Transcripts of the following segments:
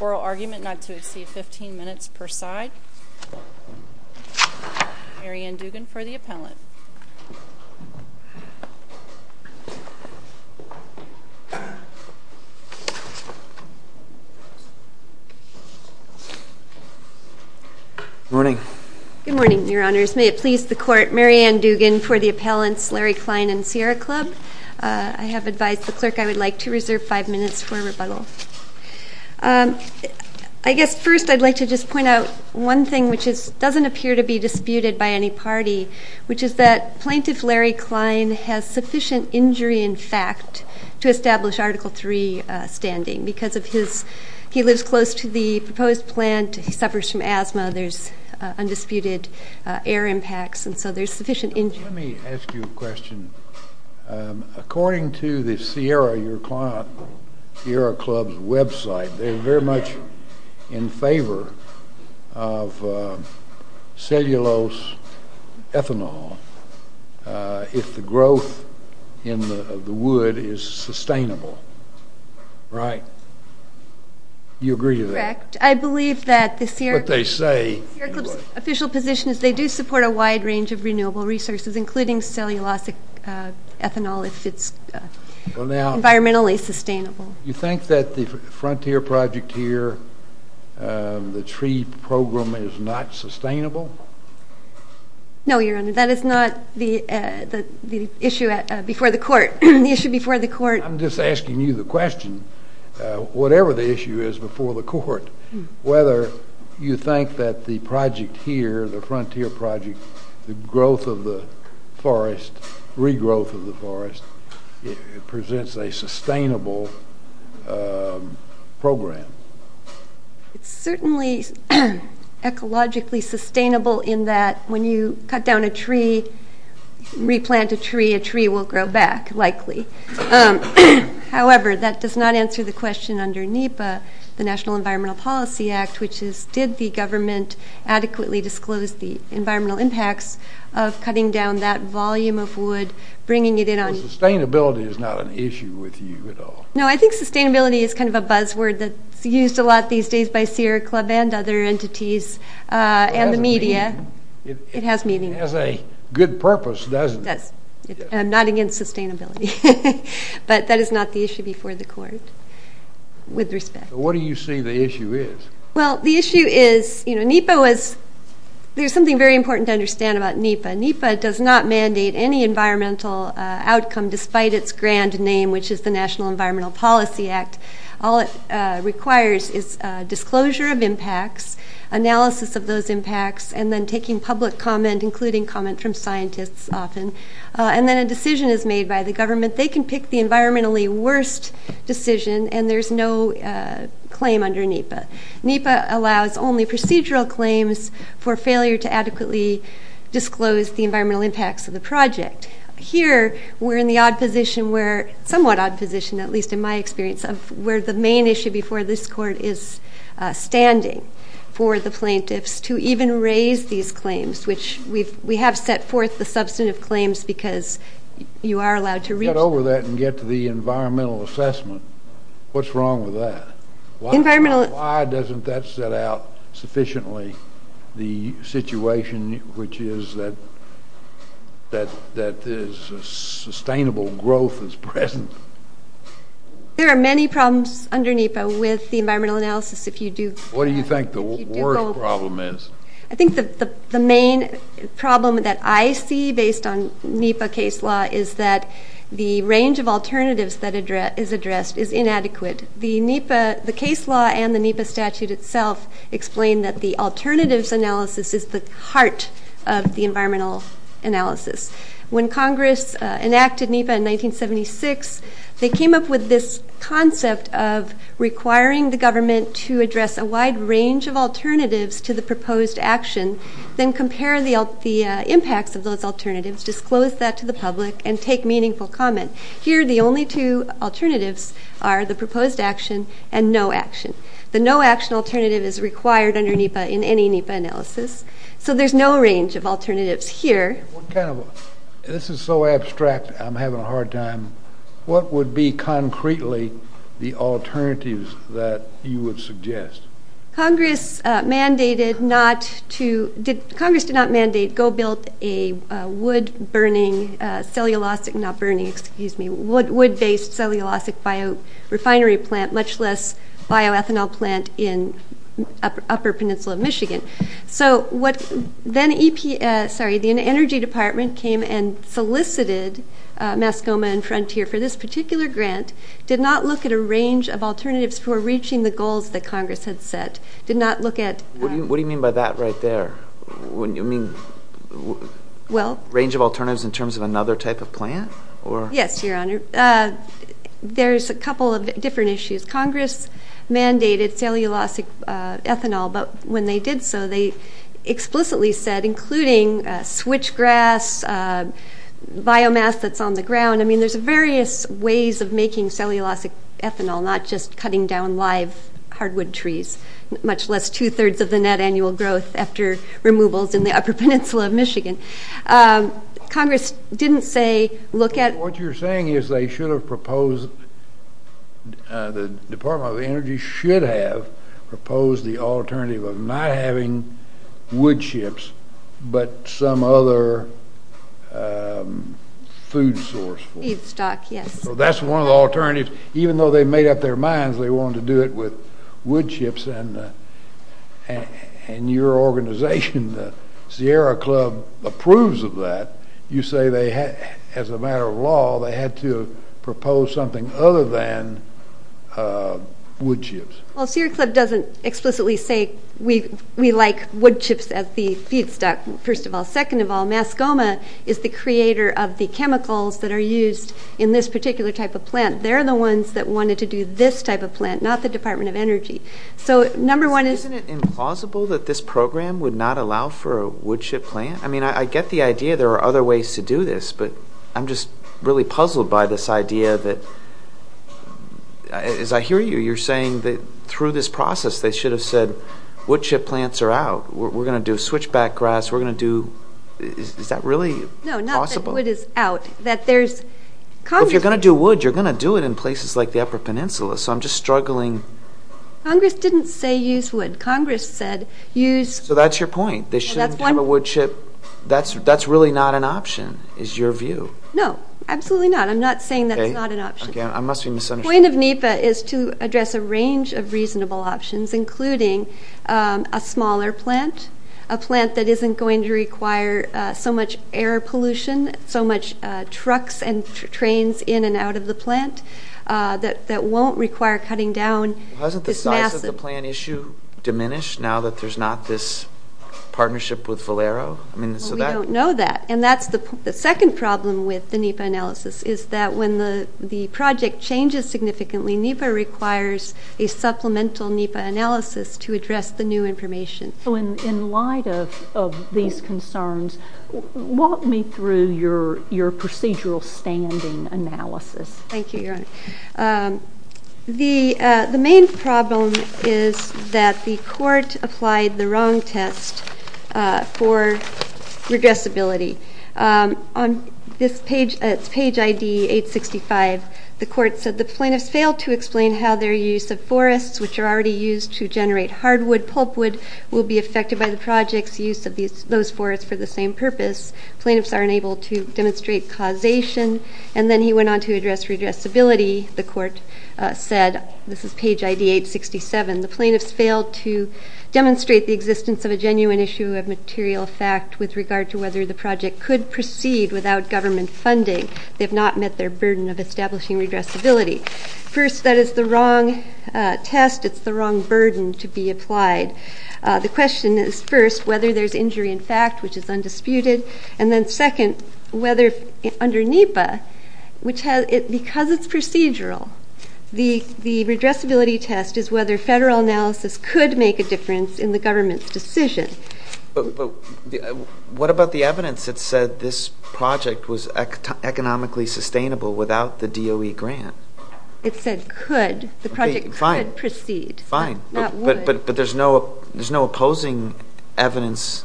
Oral argument not to exceed 15 minutes per side Mary Ann Dugan for the appellant Mary Ann Dugan for the appellants Larry Klein and Sierra Club. I have advised the clerk I would like to reserve five minutes for a rebuttal. I guess first I'd like to just point out one thing which is doesn't appear to be disputed by any party which is that plaintiff Larry Klein has sufficient injury in fact to establish Article 3 standing because of his He lives close to the proposed plant. He suffers from asthma. There's undisputed air impacts and so there's sufficient injury. Let me ask you a question. According to the Sierra, your client, Sierra Club's website they're very much in favor of cellulose ethanol if the growth in the wood is sustainable. Right. You agree to that? Correct. I believe that the Sierra Club's official position is they do support a wide range of renewable resources including cellulosic ethanol if it's environmentally sustainable. You think that the Frontier Project here, the tree program is not sustainable? No, your honor. That is not the issue before the court. The issue before the court. I'm just asking you the question. Whatever the issue is before the court, whether you think that the project here, the Frontier Project, the growth of the forest, regrowth of the forest presents a sustainable program. It's certainly ecologically sustainable in that when you cut down a tree, replant a tree, a tree will grow back likely. However, that does not answer the question under NEPA, the National Environmental Policy Act, which is did the government adequately disclose the environmental impacts of cutting down that volume of wood, bringing it in on Sustainability is not an issue with you at all. No, I think sustainability is kind of a buzzword that's used a lot these days by Sierra Club and other entities and the media. It has meaning. It has a good purpose, doesn't it? It does. I'm not against sustainability. But that is not the issue before the court with respect. What do you see the issue is? Well, the issue is, you know, NEPA was there's something very important to understand about NEPA. NEPA does not mandate any environmental outcome despite its grand name, which is the National Environmental Policy Act. All it requires is disclosure of impacts, analysis of those impacts, and then taking public comment, including comment from scientists often. And then a decision is made by the government. They can pick the environmentally worst decision, and there's no claim under NEPA. NEPA allows only procedural claims for failure to adequately disclose the environmental impacts of the project. Here we're in the odd position where, somewhat odd position at least in my experience, of where the main issue before this court is standing for the plaintiffs to even raise these claims, which we have set forth the substantive claims because you are allowed to reach them. Get over that and get to the environmental assessment. What's wrong with that? Environmental Why doesn't that set out sufficiently the situation which is that sustainable growth is present? There are many problems under NEPA with the environmental analysis if you do What do you think the worst problem is? I think the main problem that I see based on NEPA case law is that the range of alternatives that is addressed is inadequate. The NEPA case law and the NEPA statute itself explain that the alternatives analysis is the heart of the environmental analysis. When Congress enacted NEPA in 1976, they came up with this concept of requiring the government to address a wide range of alternatives to the proposed action, then compare the impacts of those alternatives, disclose that to the public, and take meaningful comment. Here, the only two alternatives are the proposed action and no action. The no action alternative is required under NEPA in any NEPA analysis. So there's no range of alternatives here. This is so abstract, I'm having a hard time. What would be concretely the alternatives that you would suggest? Congress did not mandate to go build a wood-based cellulosic bio-refinery plant, much less bio-ethanol plant in upper peninsula of Michigan. The Energy Department came and solicited Mascoma and Frontier for this particular grant, did not look at a range of alternatives for reaching the goals that Congress had set. What do you mean by that right there? Range of alternatives in terms of another type of plant? Yes, Your Honor. There's a couple of different issues. Congress mandated cellulosic ethanol, but when they did so, they explicitly said, including switchgrass, biomass that's on the ground, I mean, there's various ways of making cellulosic ethanol, not just cutting down live hardwood trees, much less two-thirds of the net annual growth after removals in the upper peninsula of Michigan. Congress didn't say, look at- The Department of Energy should have proposed the alternative of not having wood chips, but some other food source. Eat stock, yes. That's one of the alternatives. Even though they made up their minds they wanted to do it with wood chips, and your organization, the Sierra Club, approves of that. You say they, as a matter of law, they had to propose something other than wood chips. Well, Sierra Club doesn't explicitly say we like wood chips as the feedstock, first of all. Second of all, Mascoma is the creator of the chemicals that are used in this particular type of plant. They're the ones that wanted to do this type of plant, not the Department of Energy. So, number one is- Isn't it implausible that this program would not allow for a wood chip plant? I mean, I get the idea there are other ways to do this, but I'm just really puzzled by this idea that, as I hear you, you're saying that through this process they should have said wood chip plants are out, we're going to do switchback grass, we're going to do- Is that really possible? No, not that wood is out. If you're going to do wood, you're going to do it in places like the upper peninsula, so I'm just struggling- Congress didn't say use wood. Congress said use- So that's your point. They shouldn't have a wood chip. That's really not an option, is your view. No, absolutely not. I'm not saying that's not an option. I must be misunderstanding. The point of NEPA is to address a range of reasonable options, including a smaller plant, a plant that isn't going to require so much air pollution, so much trucks and trains in and out of the plant, that won't require cutting down this massive- We don't know that, and that's the second problem with the NEPA analysis, is that when the project changes significantly, NEPA requires a supplemental NEPA analysis to address the new information. So in light of these concerns, walk me through your procedural standing analysis. Thank you, Your Honor. The main problem is that the court applied the wrong test for redressability. On its page ID 865, the court said the plaintiffs failed to explain how their use of forests, which are already used to generate hardwood, pulpwood, will be affected by the project's use of those forests for the same purpose. Plaintiffs are unable to demonstrate causation. And then he went on to address redressability. The court said, this is page ID 867, the plaintiffs failed to demonstrate the existence of a genuine issue of material fact with regard to whether the project could proceed without government funding. They have not met their burden of establishing redressability. First, that is the wrong test. It's the wrong burden to be applied. The question is, first, whether there's injury in fact, which is undisputed. And then, second, whether under NEPA, because it's procedural, the redressability test is whether federal analysis could make a difference in the government's decision. But what about the evidence that said this project was economically sustainable without the DOE grant? It said could. The project could proceed. Fine, but there's no opposing evidence.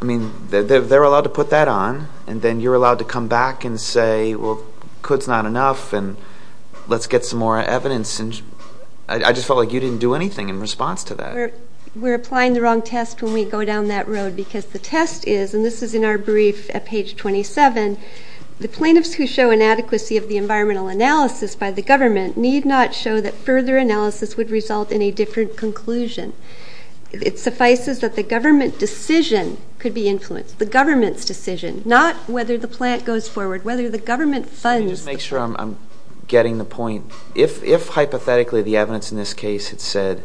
I mean, they're allowed to put that on, and then you're allowed to come back and say, well, could's not enough, and let's get some more evidence. I just felt like you didn't do anything in response to that. We're applying the wrong test when we go down that road, because the test is, and this is in our brief at page 27, the plaintiffs who show inadequacy of the environmental analysis by the government need not show that further analysis would result in a different conclusion. It suffices that the government decision could be influenced, the government's decision, not whether the plant goes forward, whether the government funds the plant. Let me just make sure I'm getting the point. If hypothetically the evidence in this case had said,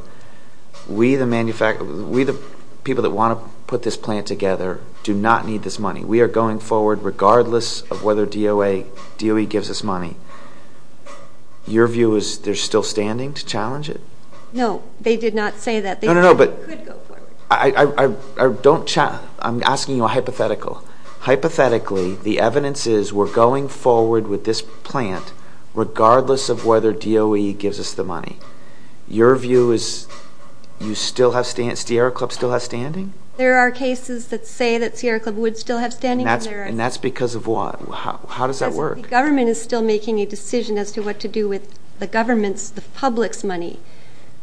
we the people that want to put this plant together do not need this money, we are going forward regardless of whether DOE gives us money, your view is they're still standing to challenge it? No, they did not say that. No, no, no, but I'm asking you a hypothetical. Hypothetically, the evidence is we're going forward with this plant regardless of whether DOE gives us the money. Your view is Sierra Club still has standing? There are cases that say that Sierra Club would still have standing. And that's because of what? How does that work? The government is still making a decision as to what to do with the government's, the public's money.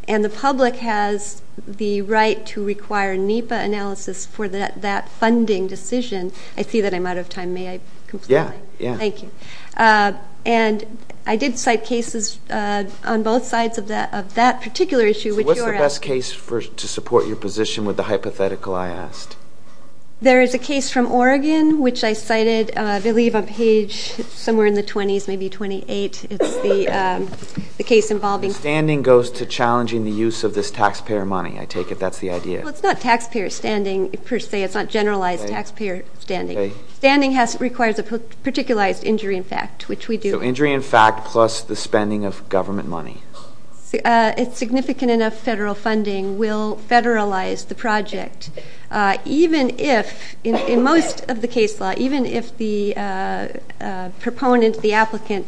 And the public has the right to require NEPA analysis for that funding decision. I see that I'm out of time. May I conclude? Yeah, yeah. Thank you. And I did cite cases on both sides of that particular issue. So what's the best case to support your position with the hypothetical I asked? There is a case from Oregon, which I cited, I believe, on page somewhere in the 20s, maybe 28. It's the case involving- Standing goes to challenging the use of this taxpayer money. I take it that's the idea. Well, it's not taxpayer standing per se. It's not generalized taxpayer standing. Standing requires a particularized injury in fact, which we do. So injury in fact plus the spending of government money. Significant enough federal funding will federalize the project. Even if, in most of the case law, even if the proponent, the applicant,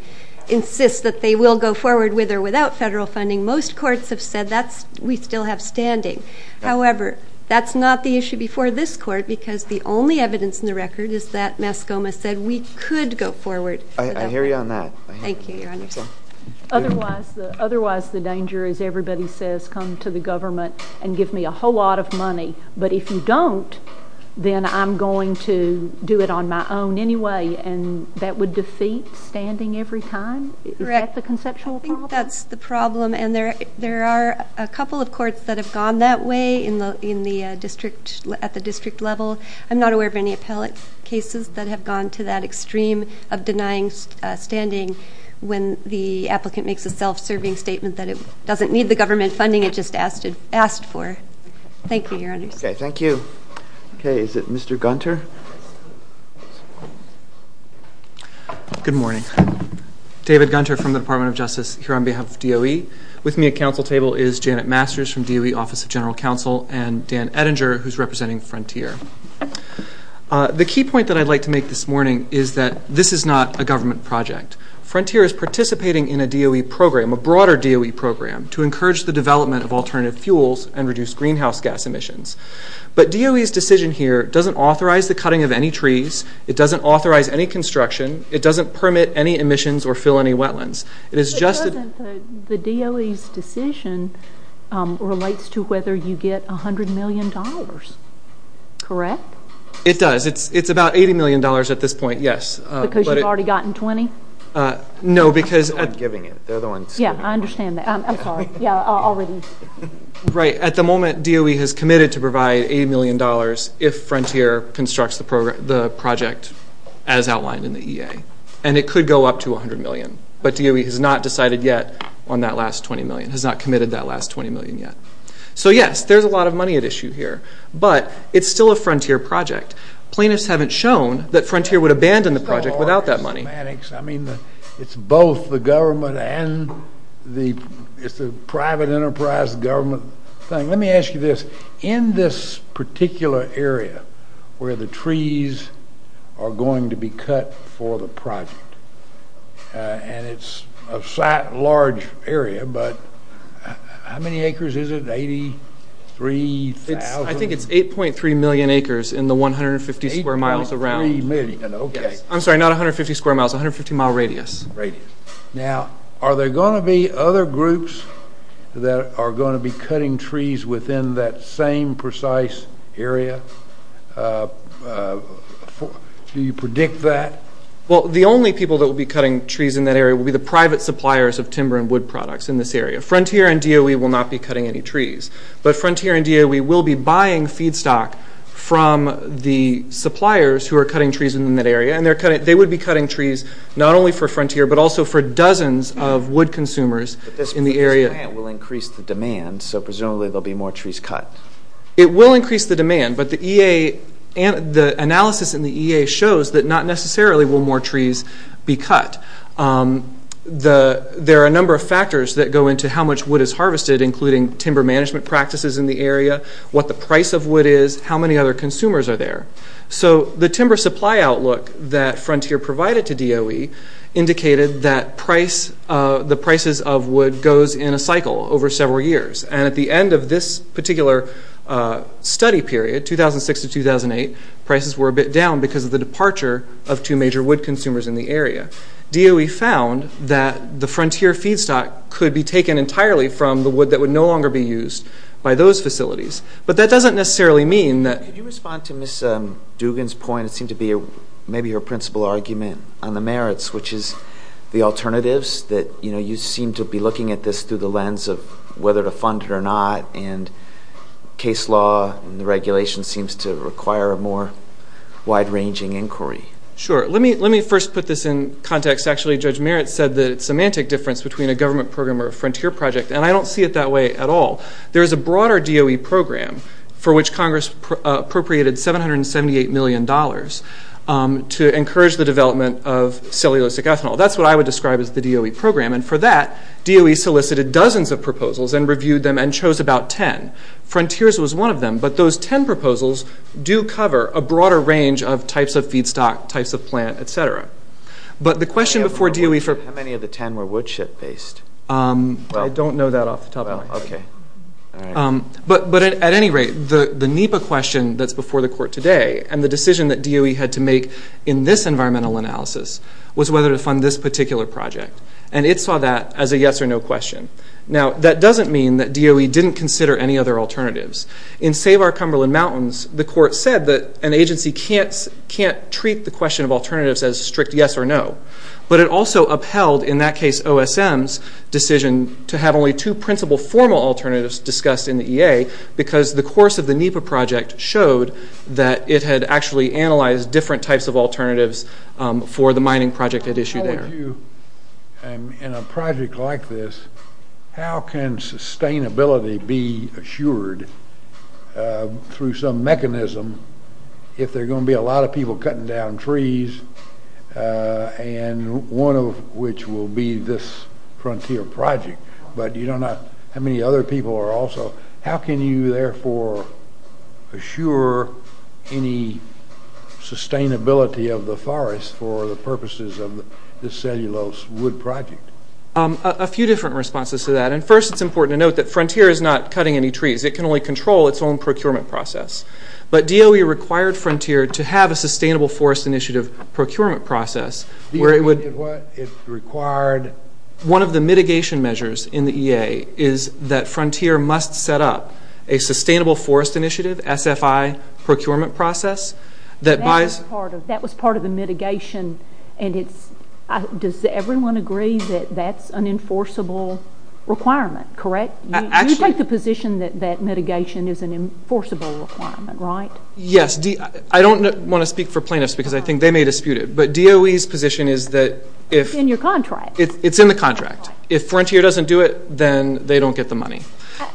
insists that they will go forward with or without federal funding, most courts have said that we still have standing. However, that's not the issue before this court because the only evidence in the record is that Mascoma said we could go forward. I hear you on that. Thank you, Your Honor. Otherwise the danger, as everybody says, come to the government and give me a whole lot of money. But if you don't, then I'm going to do it on my own anyway. And that would defeat standing every time? Is that the conceptual problem? I think that's the problem. And there are a couple of courts that have gone that way at the district level. I'm not aware of any appellate cases that have gone to that extreme of denying standing when the applicant makes a self-serving statement that it doesn't need the government funding it just asked for. Thank you, Your Honors. Okay, thank you. Okay, is it Mr. Gunter? Good morning. David Gunter from the Department of Justice here on behalf of DOE. With me at council table is Janet Masters from DOE Office of General Counsel and Dan Ettinger, who's representing Frontier. The key point that I'd like to make this morning is that this is not a government project. Frontier is participating in a DOE program, a broader DOE program, to encourage the development of alternative fuels and reduce greenhouse gas emissions. But DOE's decision here doesn't authorize the cutting of any trees. It doesn't authorize any construction. It doesn't permit any emissions or fill any wetlands. It is just that the DOE's decision relates to whether you get $100 million, correct? It does. It's about $80 million at this point, yes. Because you've already gotten $20? No, because at the moment DOE has committed to provide $80 million if Frontier constructs the project as outlined in the EA. And it could go up to $100 million. But DOE has not decided yet on that last $20 million, has not committed that last $20 million yet. So, yes, there's a lot of money at issue here. But it's still a Frontier project. Plaintiffs haven't shown that Frontier would abandon the project without that money. I mean, it's both the government and the private enterprise government thing. Now, let me ask you this. In this particular area where the trees are going to be cut for the project, and it's a large area, but how many acres is it, 83,000? I think it's 8.3 million acres in the 150 square miles around. 8.3 million, okay. I'm sorry, not 150 square miles, 150-mile radius. Radius. Now, are there going to be other groups that are going to be cutting trees within that same precise area? Do you predict that? Well, the only people that will be cutting trees in that area will be the private suppliers of timber and wood products in this area. Frontier and DOE will not be cutting any trees. But Frontier and DOE will be buying feedstock from the suppliers who are cutting trees in that area. And they would be cutting trees not only for Frontier but also for dozens of wood consumers in the area. But this plant will increase the demand, so presumably there will be more trees cut. It will increase the demand, but the analysis in the EA shows that not necessarily will more trees be cut. There are a number of factors that go into how much wood is harvested, including timber management practices in the area, what the price of wood is, how many other consumers are there. So the timber supply outlook that Frontier provided to DOE indicated that the prices of wood goes in a cycle over several years. And at the end of this particular study period, 2006 to 2008, prices were a bit down because of the departure of two major wood consumers in the area. DOE found that the Frontier feedstock could be taken entirely from the wood that would no longer be used by those facilities. But that doesn't necessarily mean that... Can you respond to Ms. Dugan's point? It seemed to be maybe her principal argument on the merits, which is the alternatives, that you seem to be looking at this through the lens of whether to fund it or not, and case law and the regulation seems to require a more wide-ranging inquiry. Sure. Let me first put this in context. Actually, Judge Merritt said that it's a semantic difference between a government program or a Frontier project, and I don't see it that way at all. There is a broader DOE program for which Congress appropriated $778 million to encourage the development of cellulosic ethanol. That's what I would describe as the DOE program. And for that, DOE solicited dozens of proposals and reviewed them and chose about ten. Frontiers was one of them, but those ten proposals do cover a broader range of types of feedstock, types of plant, et cetera. But the question before DOE... How many of the ten were woodshed-based? I don't know that off the top of my head. But at any rate, the NEPA question that's before the court today and the decision that DOE had to make in this environmental analysis was whether to fund this particular project. And it saw that as a yes or no question. Now, that doesn't mean that DOE didn't consider any other alternatives. In Save Our Cumberland Mountains, the court said that an agency can't treat the question of alternatives as a strict yes or no. But it also upheld, in that case, OSM's decision to have only two principal formal alternatives discussed in the EA because the course of the NEPA project showed that it had actually analyzed different types of alternatives for the mining project it issued there. How would you, in a project like this, how can sustainability be assured through some mechanism if there are going to be a lot of people cutting down trees, and one of which will be this Frontier project, but you don't know how many other people are also... How can you, therefore, assure any sustainability of the forest for the purposes of this cellulose wood project? A few different responses to that. And first, it's important to note that Frontier is not cutting any trees. It can only control its own procurement process. But DOE required Frontier to have a sustainable forest initiative procurement process where it would... It required... One of the mitigation measures in the EA is that Frontier must set up a sustainable forest initiative, SFI, procurement process that buys... That was part of the mitigation, and it's... Does everyone agree that that's an enforceable requirement, correct? You take the position that mitigation is an enforceable requirement, right? Yes. I don't want to speak for plaintiffs because I think they may dispute it. But DOE's position is that if... It's in your contract. It's in the contract. If Frontier doesn't do it, then they don't get the money.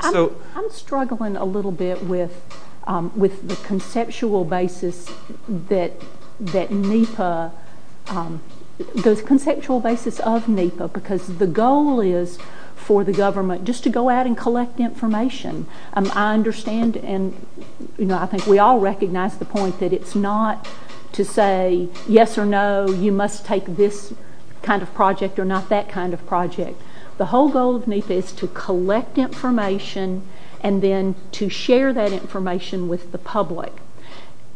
I'm struggling a little bit with the conceptual basis that NEPA... The conceptual basis of NEPA because the goal is for the government just to go out and collect information. I understand and I think we all recognize the point that it's not to say yes or no, you must take this kind of project or not that kind of project. The whole goal of NEPA is to collect information and then to share that information with the public.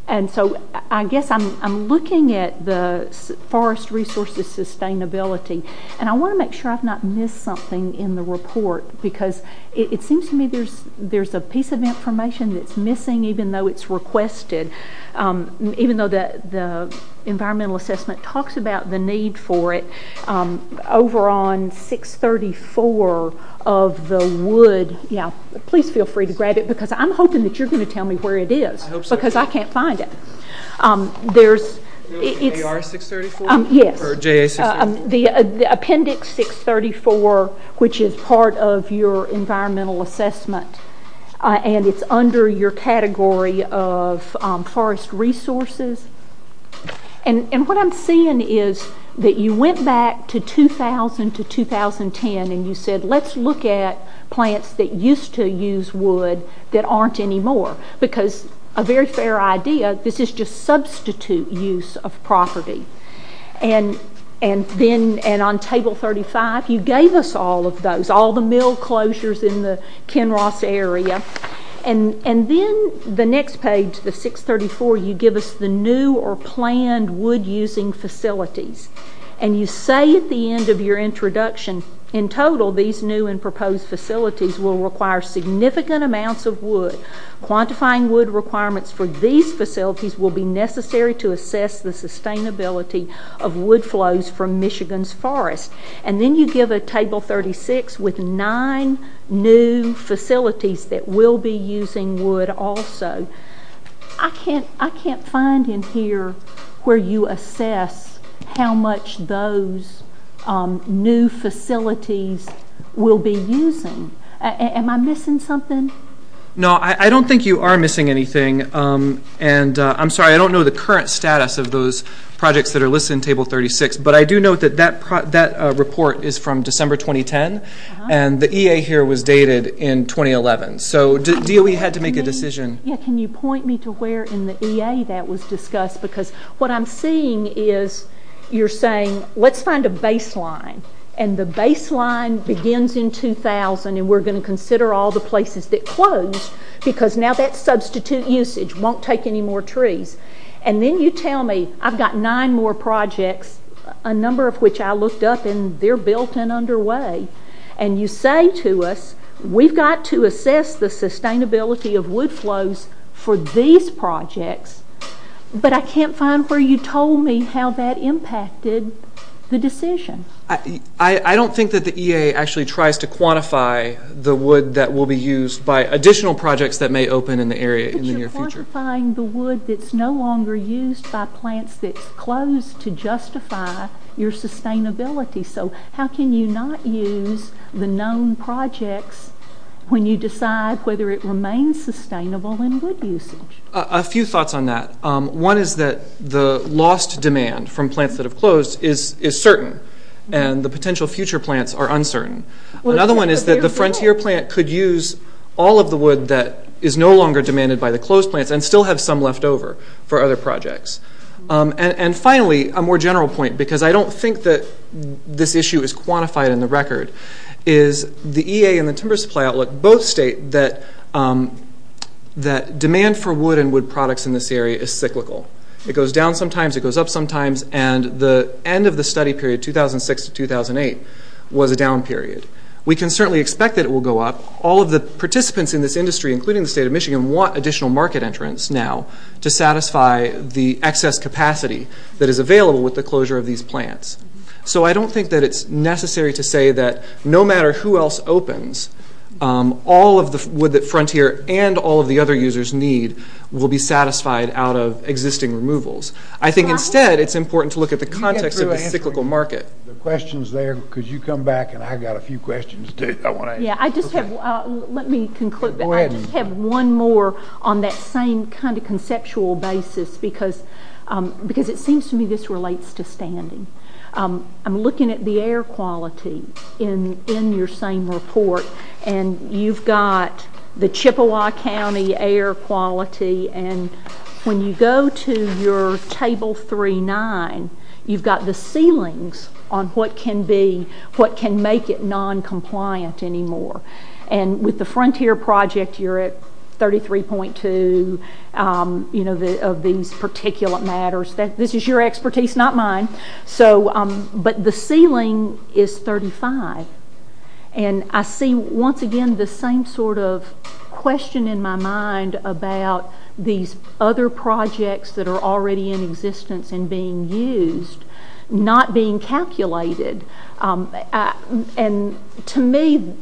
I guess I'm looking at the forest resources sustainability, and I want to make sure I've not missed something in the report because it seems to me there's a piece of information that's missing even though it's requested. Even though the environmental assessment talks about the need for it, over on 634 of the wood... Please feel free to grab it because I'm hoping that you're going to tell me where it is. Because I can't find it. The appendix 634 which is part of your environmental assessment and it's under your category of forest resources. What I'm seeing is that you went back to 2000 to 2010 and you said, let's look at plants that used to use wood that aren't anymore because a very fair idea, this is just substitute use of property. And on table 35 you gave us all of those, all the mill closures in the Kenross area. And then the next page, the 634, you give us the new or planned wood using facilities. And you say at the end of your introduction, in total these new and proposed facilities will require significant amounts of wood, quantifying wood requirements for these facilities will be necessary to assess the sustainability of wood flows from Michigan's forests. And then you give a table 36 with nine new facilities that will be using wood also. I can't find in here where you assess how much those new facilities will be using. Am I missing something? No, I don't think you are missing anything. And I'm sorry, I don't know the current status of those projects that are listed in table 36. But I do know that that report is from December 2010. And the EA here was dated in 2011. So DOE had to make a decision. Can you point me to where in the EA that was discussed? Because what I'm seeing is you're saying, let's find a baseline. And the baseline begins in 2000. And we're going to consider all the places that closed because now that substitute usage won't take any more trees. And then you tell me, I've got nine more projects, a number of which I looked up and they're built and underway. And you say to us, we've got to assess the sustainability of wood flows for these projects. But I can't find where you told me how that impacted the decision. I don't think that the EA actually tries to quantify the wood that will be used by additional projects that may open in the area in the near future. But you're quantifying the wood that's no longer used by plants that's closed to justify your sustainability. So how can you not use the known projects when you decide whether it remains sustainable in wood usage? A few thoughts on that. One is that the lost demand from plants that have closed is certain. And the potential future plants are uncertain. Another one is that the frontier plant could use all of the wood that is no longer demanded by the closed plants and still have some left over for other projects. And finally, a more general point, because I don't think that this issue is quantified in the record, is the EA and the Timber Supply Outlook both state that demand for wood and wood products in this area is cyclical. It goes down sometimes, it goes up sometimes, and the end of the study period, 2006 to 2008, was a down period. We can certainly expect that it will go up. All of the participants in this industry, including the state of Michigan, want additional market entrants now to satisfy the excess capacity that is available with the closure of these plants. So I don't think that it's necessary to say that no matter who else opens, all of the wood that Frontier and all of the other users need will be satisfied out of existing removals. I think instead it's important to look at the context of the cyclical market. There are questions there. Could you come back, and I've got a few questions too I want to ask. Let me conclude. I just have one more on that same kind of conceptual basis because it seems to me this relates to standing. I'm looking at the air quality in your same report, and you've got the Chippewa County air quality, and when you go to your Table 3-9, you've got the ceilings on what can make it noncompliant anymore. With the Frontier project, you're at 33.2 of these particulate matters. This is your expertise, not mine, but the ceiling is 35. I see once again the same sort of question in my mind about these other projects that are already in existence and being used not being calculated. And to me,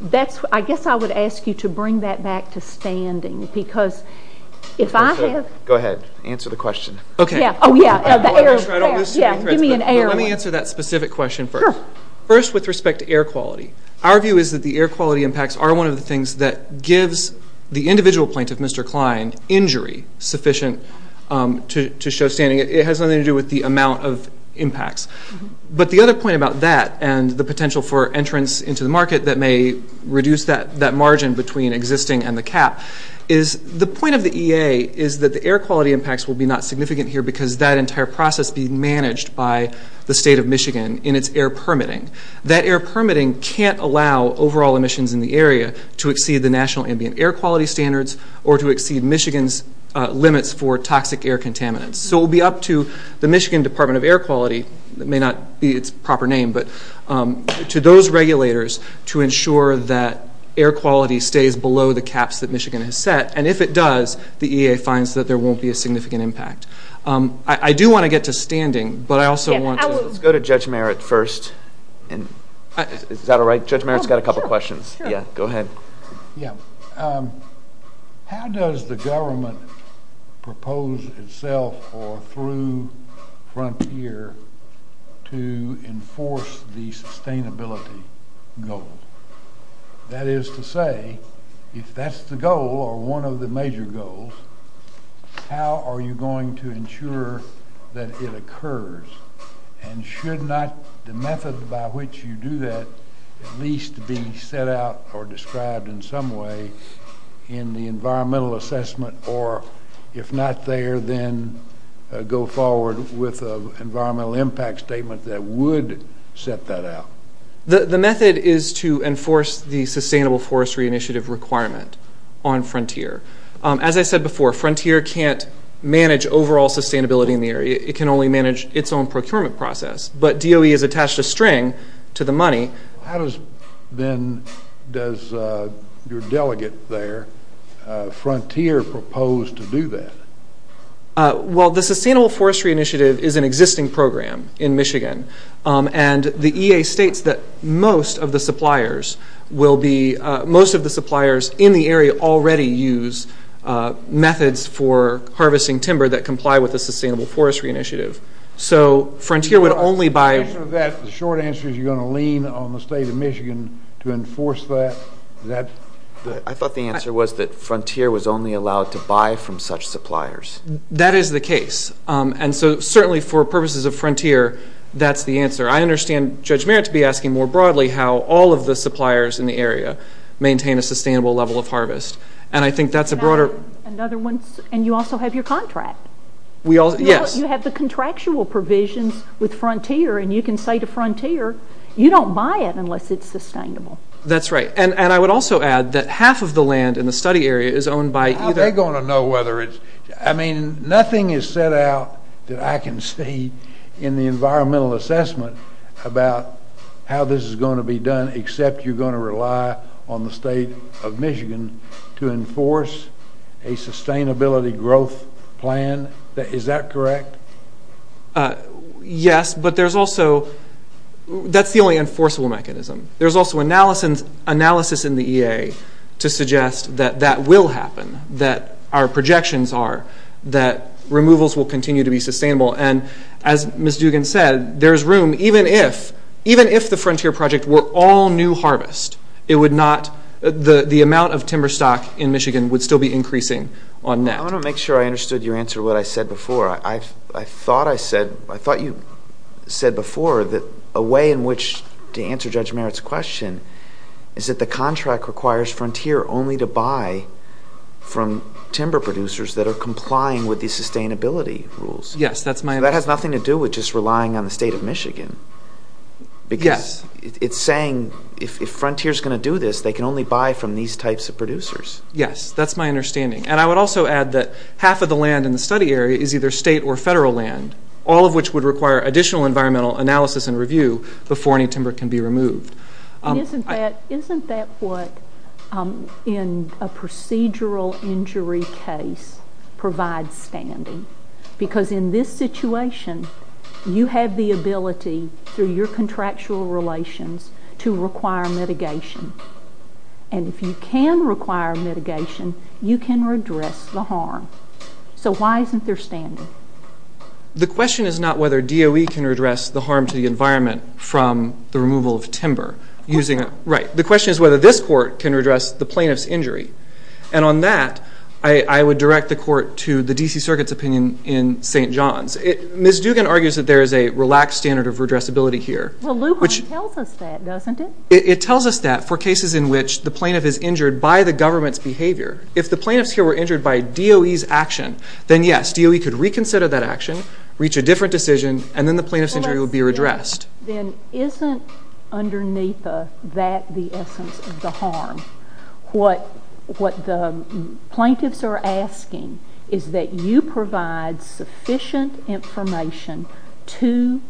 I guess I would ask you to bring that back to standing because if I have... Go ahead. Answer the question. Oh, yeah. Give me an air one. Let me answer that specific question first. First, with respect to air quality, our view is that the air quality impacts are one of the things that gives the individual plaintiff, Mr. Kline, injury sufficient to show standing. It has nothing to do with the amount of impacts. But the other point about that and the potential for entrance into the market that may reduce that margin between existing and the cap is the point of the EA is that the air quality impacts will be not significant here because that entire process being managed by the State of Michigan in its air permitting. That air permitting can't allow overall emissions in the area to exceed the national ambient air quality standards or to exceed Michigan's limits for toxic air contaminants. So it will be up to the Michigan Department of Air Quality, it may not be its proper name, but to those regulators to ensure that air quality stays below the caps that Michigan has set. And if it does, the EA finds that there won't be a significant impact. I do want to get to standing, but I also want to... Let's go to Judge Merritt first. Is that all right? Judge Merritt's got a couple of questions. Yeah, go ahead. Yeah. How does the government propose itself or through Frontier to enforce the sustainability goal? That is to say, if that's the goal or one of the major goals, how are you going to ensure that it occurs? And should not the method by which you do that at least be set out or described in some way in the environmental assessment? Or if not there, then go forward with an environmental impact statement that would set that out? The method is to enforce the Sustainable Forestry Initiative requirement on Frontier. As I said before, Frontier can't manage overall sustainability in the area. It can only manage its own procurement process. But DOE has attached a string to the money. How does your delegate there, Frontier, propose to do that? Well, the Sustainable Forestry Initiative is an existing program in Michigan. And the EA states that most of the suppliers in the area already use methods for harvesting timber that comply with the Sustainable Forestry Initiative. So Frontier would only buy... The short answer is you're going to lean on the state of Michigan to enforce that. I thought the answer was that Frontier was only allowed to buy from such suppliers. That is the case. And so certainly for purposes of Frontier, that's the answer. I understand Judge Merritt to be asking more broadly how all of the suppliers in the area maintain a sustainable level of harvest. And I think that's a broader... And you also have your contract. Yes. You have the contractual provisions with Frontier, and you can say to Frontier, you don't buy it unless it's sustainable. That's right. And I would also add that half of the land in the study area is owned by either... How are they going to know whether it's... I mean, nothing is set out that I can see in the environmental assessment about how this is going to be done except you're going to rely on the state of Michigan to enforce a sustainability growth plan. Is that correct? Yes, but there's also... That's the only enforceable mechanism. There's also analysis in the EA to suggest that that will happen, that our projections are that removals will continue to be sustainable. And as Ms. Dugan said, there's room, even if the Frontier project were all new harvest, it would not... The amount of timber stock in Michigan would still be increasing on that. I want to make sure I understood your answer to what I said before. I thought I said... I thought you said before that a way in which to answer Judge Merritt's question is that the contract requires Frontier only to buy from timber producers that are complying with the sustainability rules. Yes, that's my understanding. That has nothing to do with just relying on the state of Michigan. Yes. Because it's saying if Frontier's going to do this, they can only buy from these types of producers. Yes, that's my understanding. And I would also add that half of the land in the study area is either state or federal land, all of which would require additional environmental analysis and review before any timber can be removed. Isn't that what, in a procedural injury case, provides standing? Because in this situation, you have the ability through your contractual relations And if you can require mitigation, you can redress the harm. So why isn't there standing? The question is not whether DOE can redress the harm to the environment from the removal of timber. Right. The question is whether this court can redress the plaintiff's injury. And on that, I would direct the court to the D.C. Circuit's opinion in St. John's. Ms. Dugan argues that there is a relaxed standard of redressability here. Well, Lujan tells us that, doesn't it? It tells us that for cases in which the plaintiff is injured by the government's behavior. If the plaintiff's here were injured by DOE's action, then yes, DOE could reconsider that action, reach a different decision, and then the plaintiff's injury would be redressed. Then isn't underneath that the essence of the harm? What the plaintiffs are asking is that you provide sufficient information to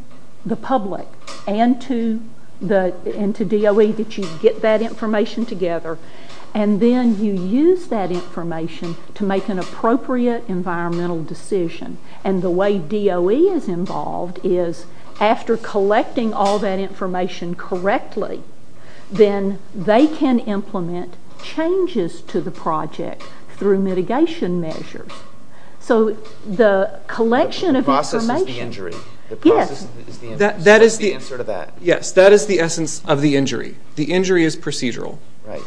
the public and to DOE that you get that information together, and then you use that information to make an appropriate environmental decision. And the way DOE is involved is after collecting all that information correctly, then they can implement changes to the project through mitigation measures. So the collection of information... The process is the injury. Yes. The process is the injury. That is the answer to that. Yes, that is the essence of the injury. The injury is procedural. Right.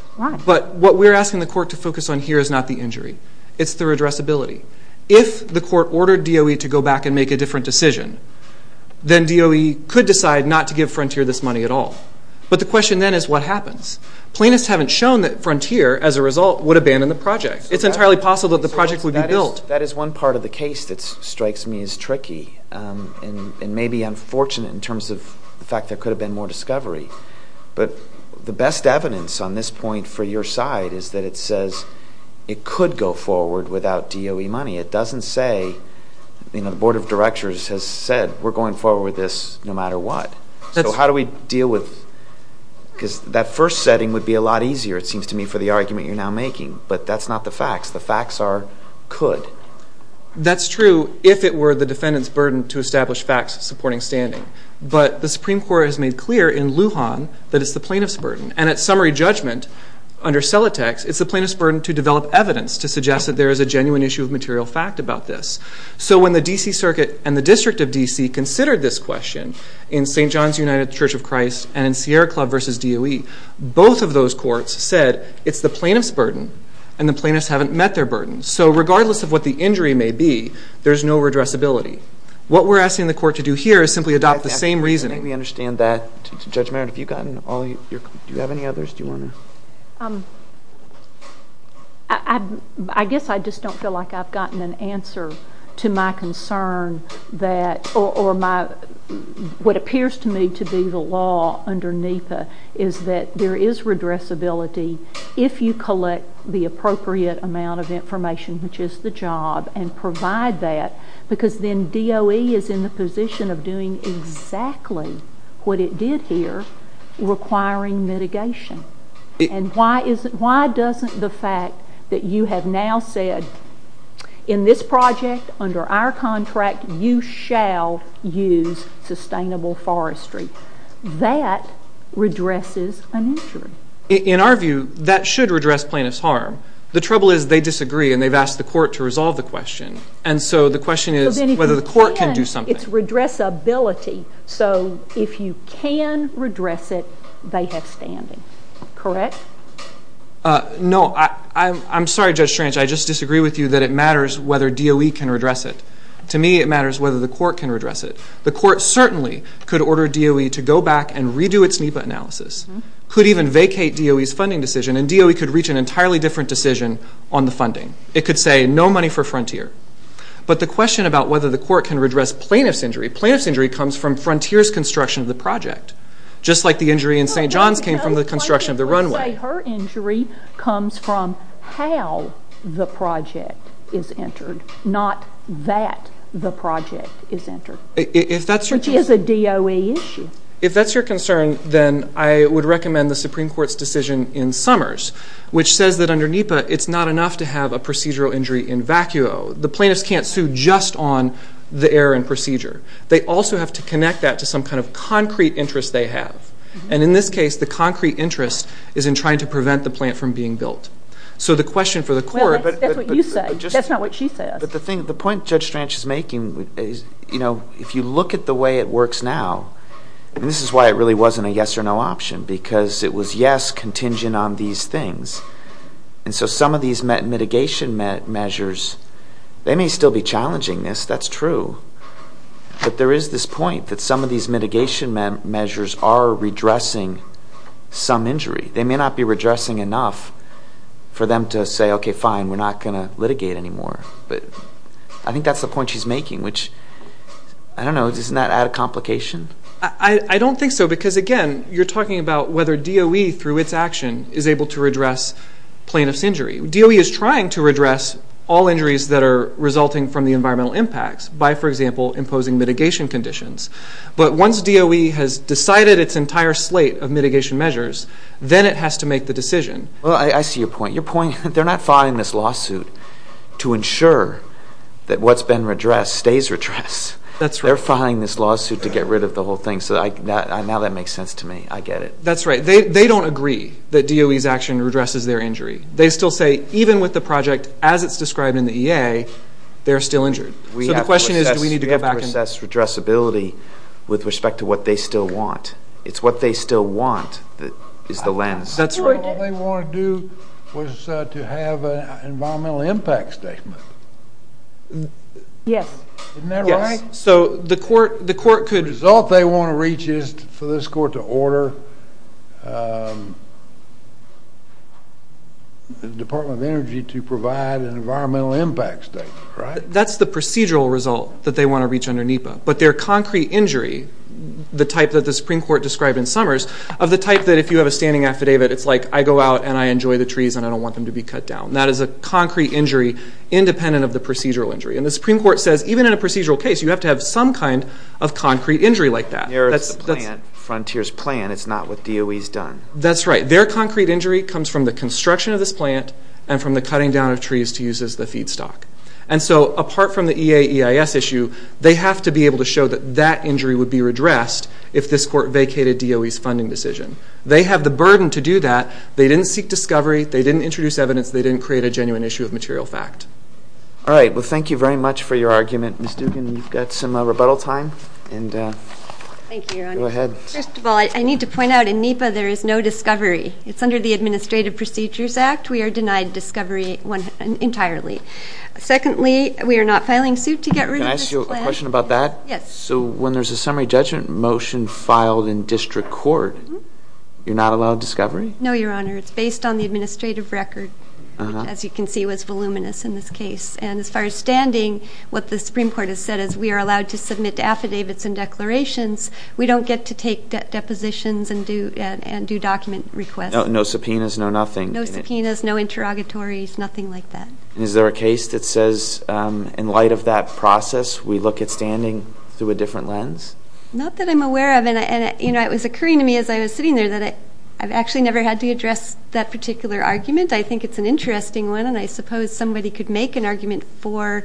But what we're asking the court to focus on here is not the injury. It's the redressability. If the court ordered DOE to go back and make a different decision, then DOE could decide not to give Frontier this money at all. But the question then is what happens? Plaintiffs haven't shown that Frontier, as a result, would abandon the project. It's entirely possible that the project would be built. That is one part of the case that strikes me as tricky and maybe unfortunate in terms of the fact there could have been more discovery. But the best evidence on this point for your side is that it says it could go forward without DOE money. It doesn't say... The Board of Directors has said we're going forward with this no matter what. So how do we deal with... Because that first setting would be a lot easier, it seems to me, for the argument you're now making. But that's not the facts. The facts are could. That's true if it were the defendant's burden to establish facts supporting standing. But the Supreme Court has made clear in Lujan that it's the plaintiff's burden. And at summary judgment, under Celotex, it's the plaintiff's burden to develop evidence to suggest that there is a genuine issue of material fact about this. So when the D.C. Circuit and the District of D.C. considered this question in St. John's United Church of Christ and in Sierra Club v. DOE, both of those courts said it's the plaintiff's burden and the plaintiffs haven't met their burden. So regardless of what the injury may be, there's no redressability. What we're asking the court to do here is simply adopt the same reasoning. I think we understand that. Judge Merritt, have you gotten all your... Do you have any others you want to... Um... I guess I just don't feel like I've gotten an answer to my concern that... Or my... What appears to me to be the law under NEPA is that there is redressability if you collect the appropriate amount of information, which is the job, and provide that, because then DOE is in the position of doing exactly what it did here, requiring mitigation. And why doesn't the fact that you have now said, in this project, under our contract, you shall use sustainable forestry, that redresses an injury? In our view, that should redress plaintiff's harm. The trouble is they disagree and they've asked the court to resolve the question. And so the question is whether the court can do something. But then if you can, it's redressability. So if you can redress it, they have standing. Correct? No. I'm sorry, Judge Strange. I just disagree with you that it matters whether DOE can redress it. To me, it matters whether the court can redress it. The court certainly could order DOE to go back and redo its NEPA analysis, could even vacate DOE's funding decision, and DOE could reach an entirely different decision on the funding. It could say, no money for Frontier. But the question about whether the court can redress plaintiff's injury, plaintiff's injury comes from Frontier's construction of the project, just like the injury in St. John's came from the construction of the runway. Her injury comes from how the project is entered, not that the project is entered. If that's your... Which is a DOE issue. If that's your concern, then I would recommend the Supreme Court's decision in Summers, which says that under NEPA, it's not enough to have a procedural injury in vacuo. The plaintiffs can't sue just on the error in procedure. They also have to connect that to some kind of concrete interest they have. And in this case, the concrete interest is in trying to prevent the plant from being built. So the question for the court... Well, that's what you say. That's not what she says. But the point Judge Strange is making is, you know, if you look at the way it works now, and this is why it really wasn't a yes or no option, because it was, yes, contingent on these things. And so some of these mitigation measures, they may still be challenging this. That's true. But there is this point that some of these mitigation measures are redressing some injury. They may not be redressing enough for them to say, okay, fine, we're not going to litigate anymore. But I think that's the point she's making, which, I don't know, doesn't that add a complication? I don't think so, because, again, you're talking about whether DOE, through its action, is able to redress plaintiff's injury. DOE is trying to redress all injuries that are resulting from the environmental impacts by, for example, imposing mitigation conditions. But once DOE has decided its entire slate of mitigation measures, then it has to make the decision. Well, I see your point. Your point, they're not filing this lawsuit to ensure that what's been redressed stays redressed. That's right. They're filing this lawsuit to get rid of the whole thing. Now that makes sense to me. I get it. That's right. They don't agree that DOE's action redresses their injury. They still say, even with the project as it's described in the EA, they're still injured. So the question is, do we need to go back and... We have to assess redressability with respect to what they still want. It's what they still want that is the lens. That's right. What they want to do was to have an environmental impact statement. Yes. Isn't that right? Yes. So the court could... The result they want to reach is for this court to order the Department of Energy to provide an environmental impact statement, right? That's the procedural result that they want to reach under NEPA. But their concrete injury, the type that the Supreme Court described in Summers, of the type that if you have a standing affidavit, it's like, I go out and I enjoy the trees and I don't want them to be cut down. That is a concrete injury independent of the procedural injury. And the Supreme Court says, even in a procedural case, you have to have some kind of concrete injury like that. There is a plan. Frontier's plan. It's not what DOE's done. That's right. Their concrete injury comes from the construction of this plant and from the cutting down of trees to use as the feedstock. And so apart from the EA-EIS issue, they have to be able to show that that injury would be redressed if this court vacated DOE's funding decision. They have the burden to do that. They didn't seek discovery. They didn't introduce evidence. They didn't create a genuine issue of material fact. All right. Well, thank you very much for your argument. Ms. Dugan, you've got some rebuttal time. Thank you, Your Honor. Go ahead. First of all, I need to point out in NEPA there is no discovery. It's under the Administrative Procedures Act. We are denied discovery entirely. Secondly, we are not filing suit to get rid of this plant. Can I ask you a question about that? Yes. So when there's a summary judgment motion filed in district court, you're not allowed discovery? No, Your Honor. It's based on the administrative record, which, as you can see, was voluminous in this case. And as far as standing, what the Supreme Court has said is we are allowed to submit affidavits and declarations. We don't get to take depositions and do document requests. No subpoenas, no nothing? No subpoenas, no interrogatories, nothing like that. And is there a case that says in light of that process, we look at standing through a different lens? Not that I'm aware of. And, you know, it was occurring to me as I was sitting there that I've actually never had to address that particular argument. I think it's an interesting one, and I suppose somebody could make an argument for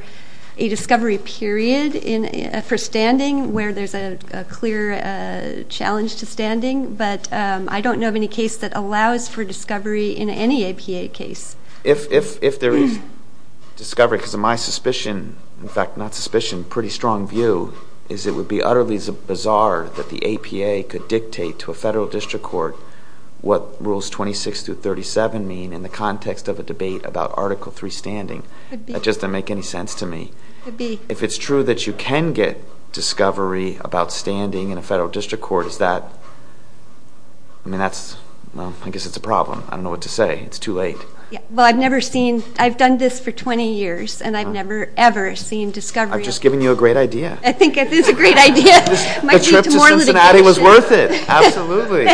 a discovery period for standing where there's a clear challenge to standing, but I don't know of any case that allows for discovery in any APA case. If there is discovery, because of my suspicion, in fact, not suspicion, pretty strong view is it would be utterly bizarre that the APA could dictate to a federal district court what Rules 26 through 37 mean in the context of a debate about Article III standing. It just doesn't make any sense to me. If it's true that you can get discovery about standing in a federal district court, is that, I mean, that's, well, I guess it's a problem. I don't know what to say. It's too late. Well, I've never seen, I've done this for 20 years, and I've never ever seen discovery. I'm just giving you a great idea. I think it is a great idea. The trip to Cincinnati was worth it. Absolutely.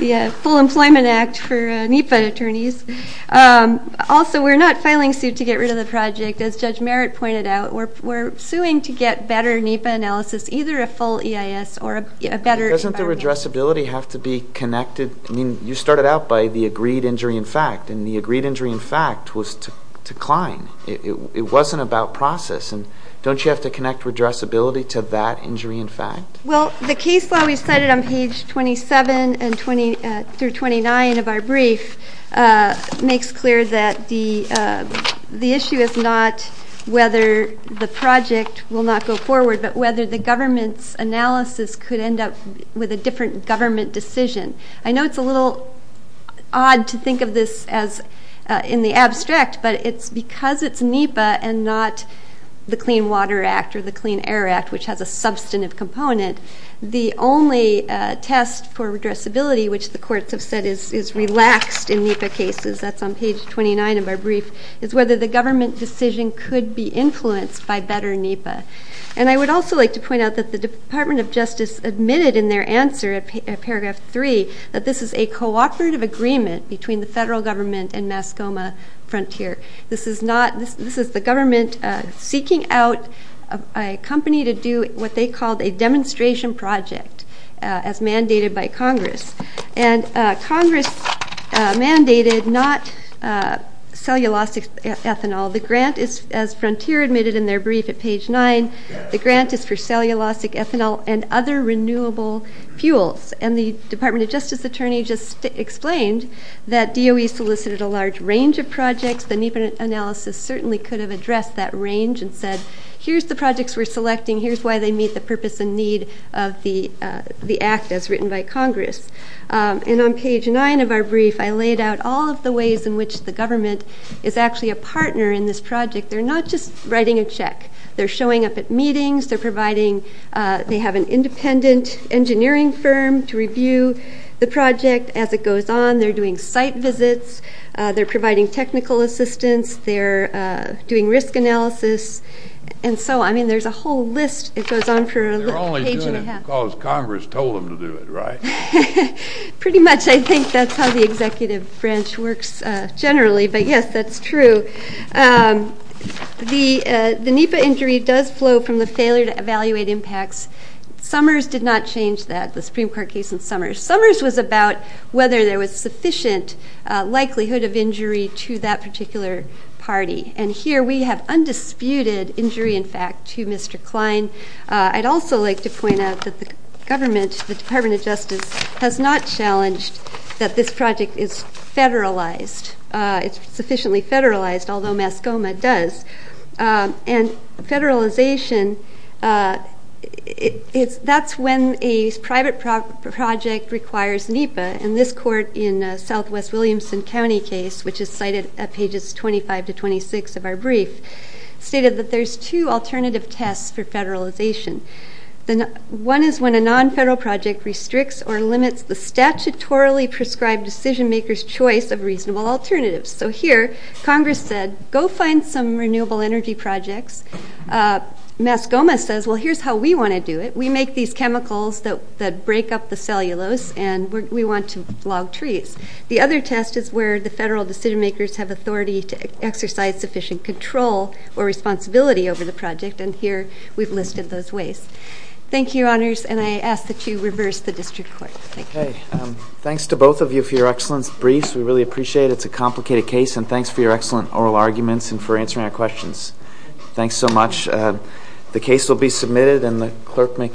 The Full Employment Act for NEPA attorneys. Also, we're not filing suit to get rid of the project. As Judge Merritt pointed out, we're suing to get better NEPA analysis, either a full EIS or a better environment. Doesn't the redressability have to be connected? I mean, you started out by the agreed injury in fact, and the agreed injury in fact was to decline. It wasn't about process. Don't you have to connect redressability to that injury in fact? Well, the case law we cited on page 27 through 29 of our brief makes clear that the issue is not whether the project will not go forward, but whether the government's analysis could end up with a different government decision. I know it's a little odd to think of this in the abstract, but it's because it's NEPA and not the Clean Water Act or the Clean Air Act, which has a substantive component. The only test for redressability, which the courts have said is relaxed in NEPA cases, that's on page 29 of our brief, is whether the government decision could be influenced by better NEPA. And I would also like to point out that the Department of Justice admitted in their answer at paragraph 3 that this is a cooperative agreement between the federal government and Mascoma Frontier. This is the government seeking out a company to do what they called a demonstration project as mandated by Congress. And Congress mandated not cellulosic ethanol. The grant is, as Frontier admitted in their brief at page 9, the grant is for cellulosic ethanol and other renewable fuels. And the Department of Justice attorney just explained that DOE solicited a large range of projects. The NEPA analysis certainly could have addressed that range and said, here's the projects we're selecting, here's why they meet the purpose and need of the act as written by Congress. And on page 9 of our brief, I laid out all of the ways in which the government is actually a partner in this project. They're not just writing a check. They're showing up at meetings. They have an independent engineering firm to review the project. As it goes on, they're doing site visits. They're providing technical assistance. They're doing risk analysis. And so, I mean, there's a whole list. It goes on for a page and a half. They're only doing it because Congress told them to do it, right? Pretty much. I think that's how the executive branch works generally. But, yes, that's true. The NEPA injury does flow from the failure to evaluate impacts. Summers did not change that, the Supreme Court case in Summers. Summers was about whether there was sufficient likelihood of injury to that particular party. And here we have undisputed injury, in fact, to Mr. Klein. I'd also like to point out that the government, the Department of Justice, has not challenged that this project is federalized. It's sufficiently federalized, although Mascoma does. And federalization, that's when a private project requires NEPA. And this court in Southwest Williamson County case, which is cited at pages 25 to 26 of our brief, stated that there's two alternative tests for federalization. One is when a non-federal project restricts or limits the statutorily prescribed decision maker's choice of reasonable alternatives. So here Congress said, go find some renewable energy projects. Mascoma says, well, here's how we want to do it. We make these chemicals that break up the cellulose, and we want to log trees. The other test is where the federal decision makers have authority to exercise sufficient control or responsibility over the project. And here we've listed those ways. Thank you, Your Honors. And I ask that you reverse the district court. Thank you. Thanks to both of you for your excellence briefs. We really appreciate it. It's a complicated case. And thanks for your excellent oral arguments and for answering our questions. Thanks so much. The case will be submitted, and the clerk may call to order.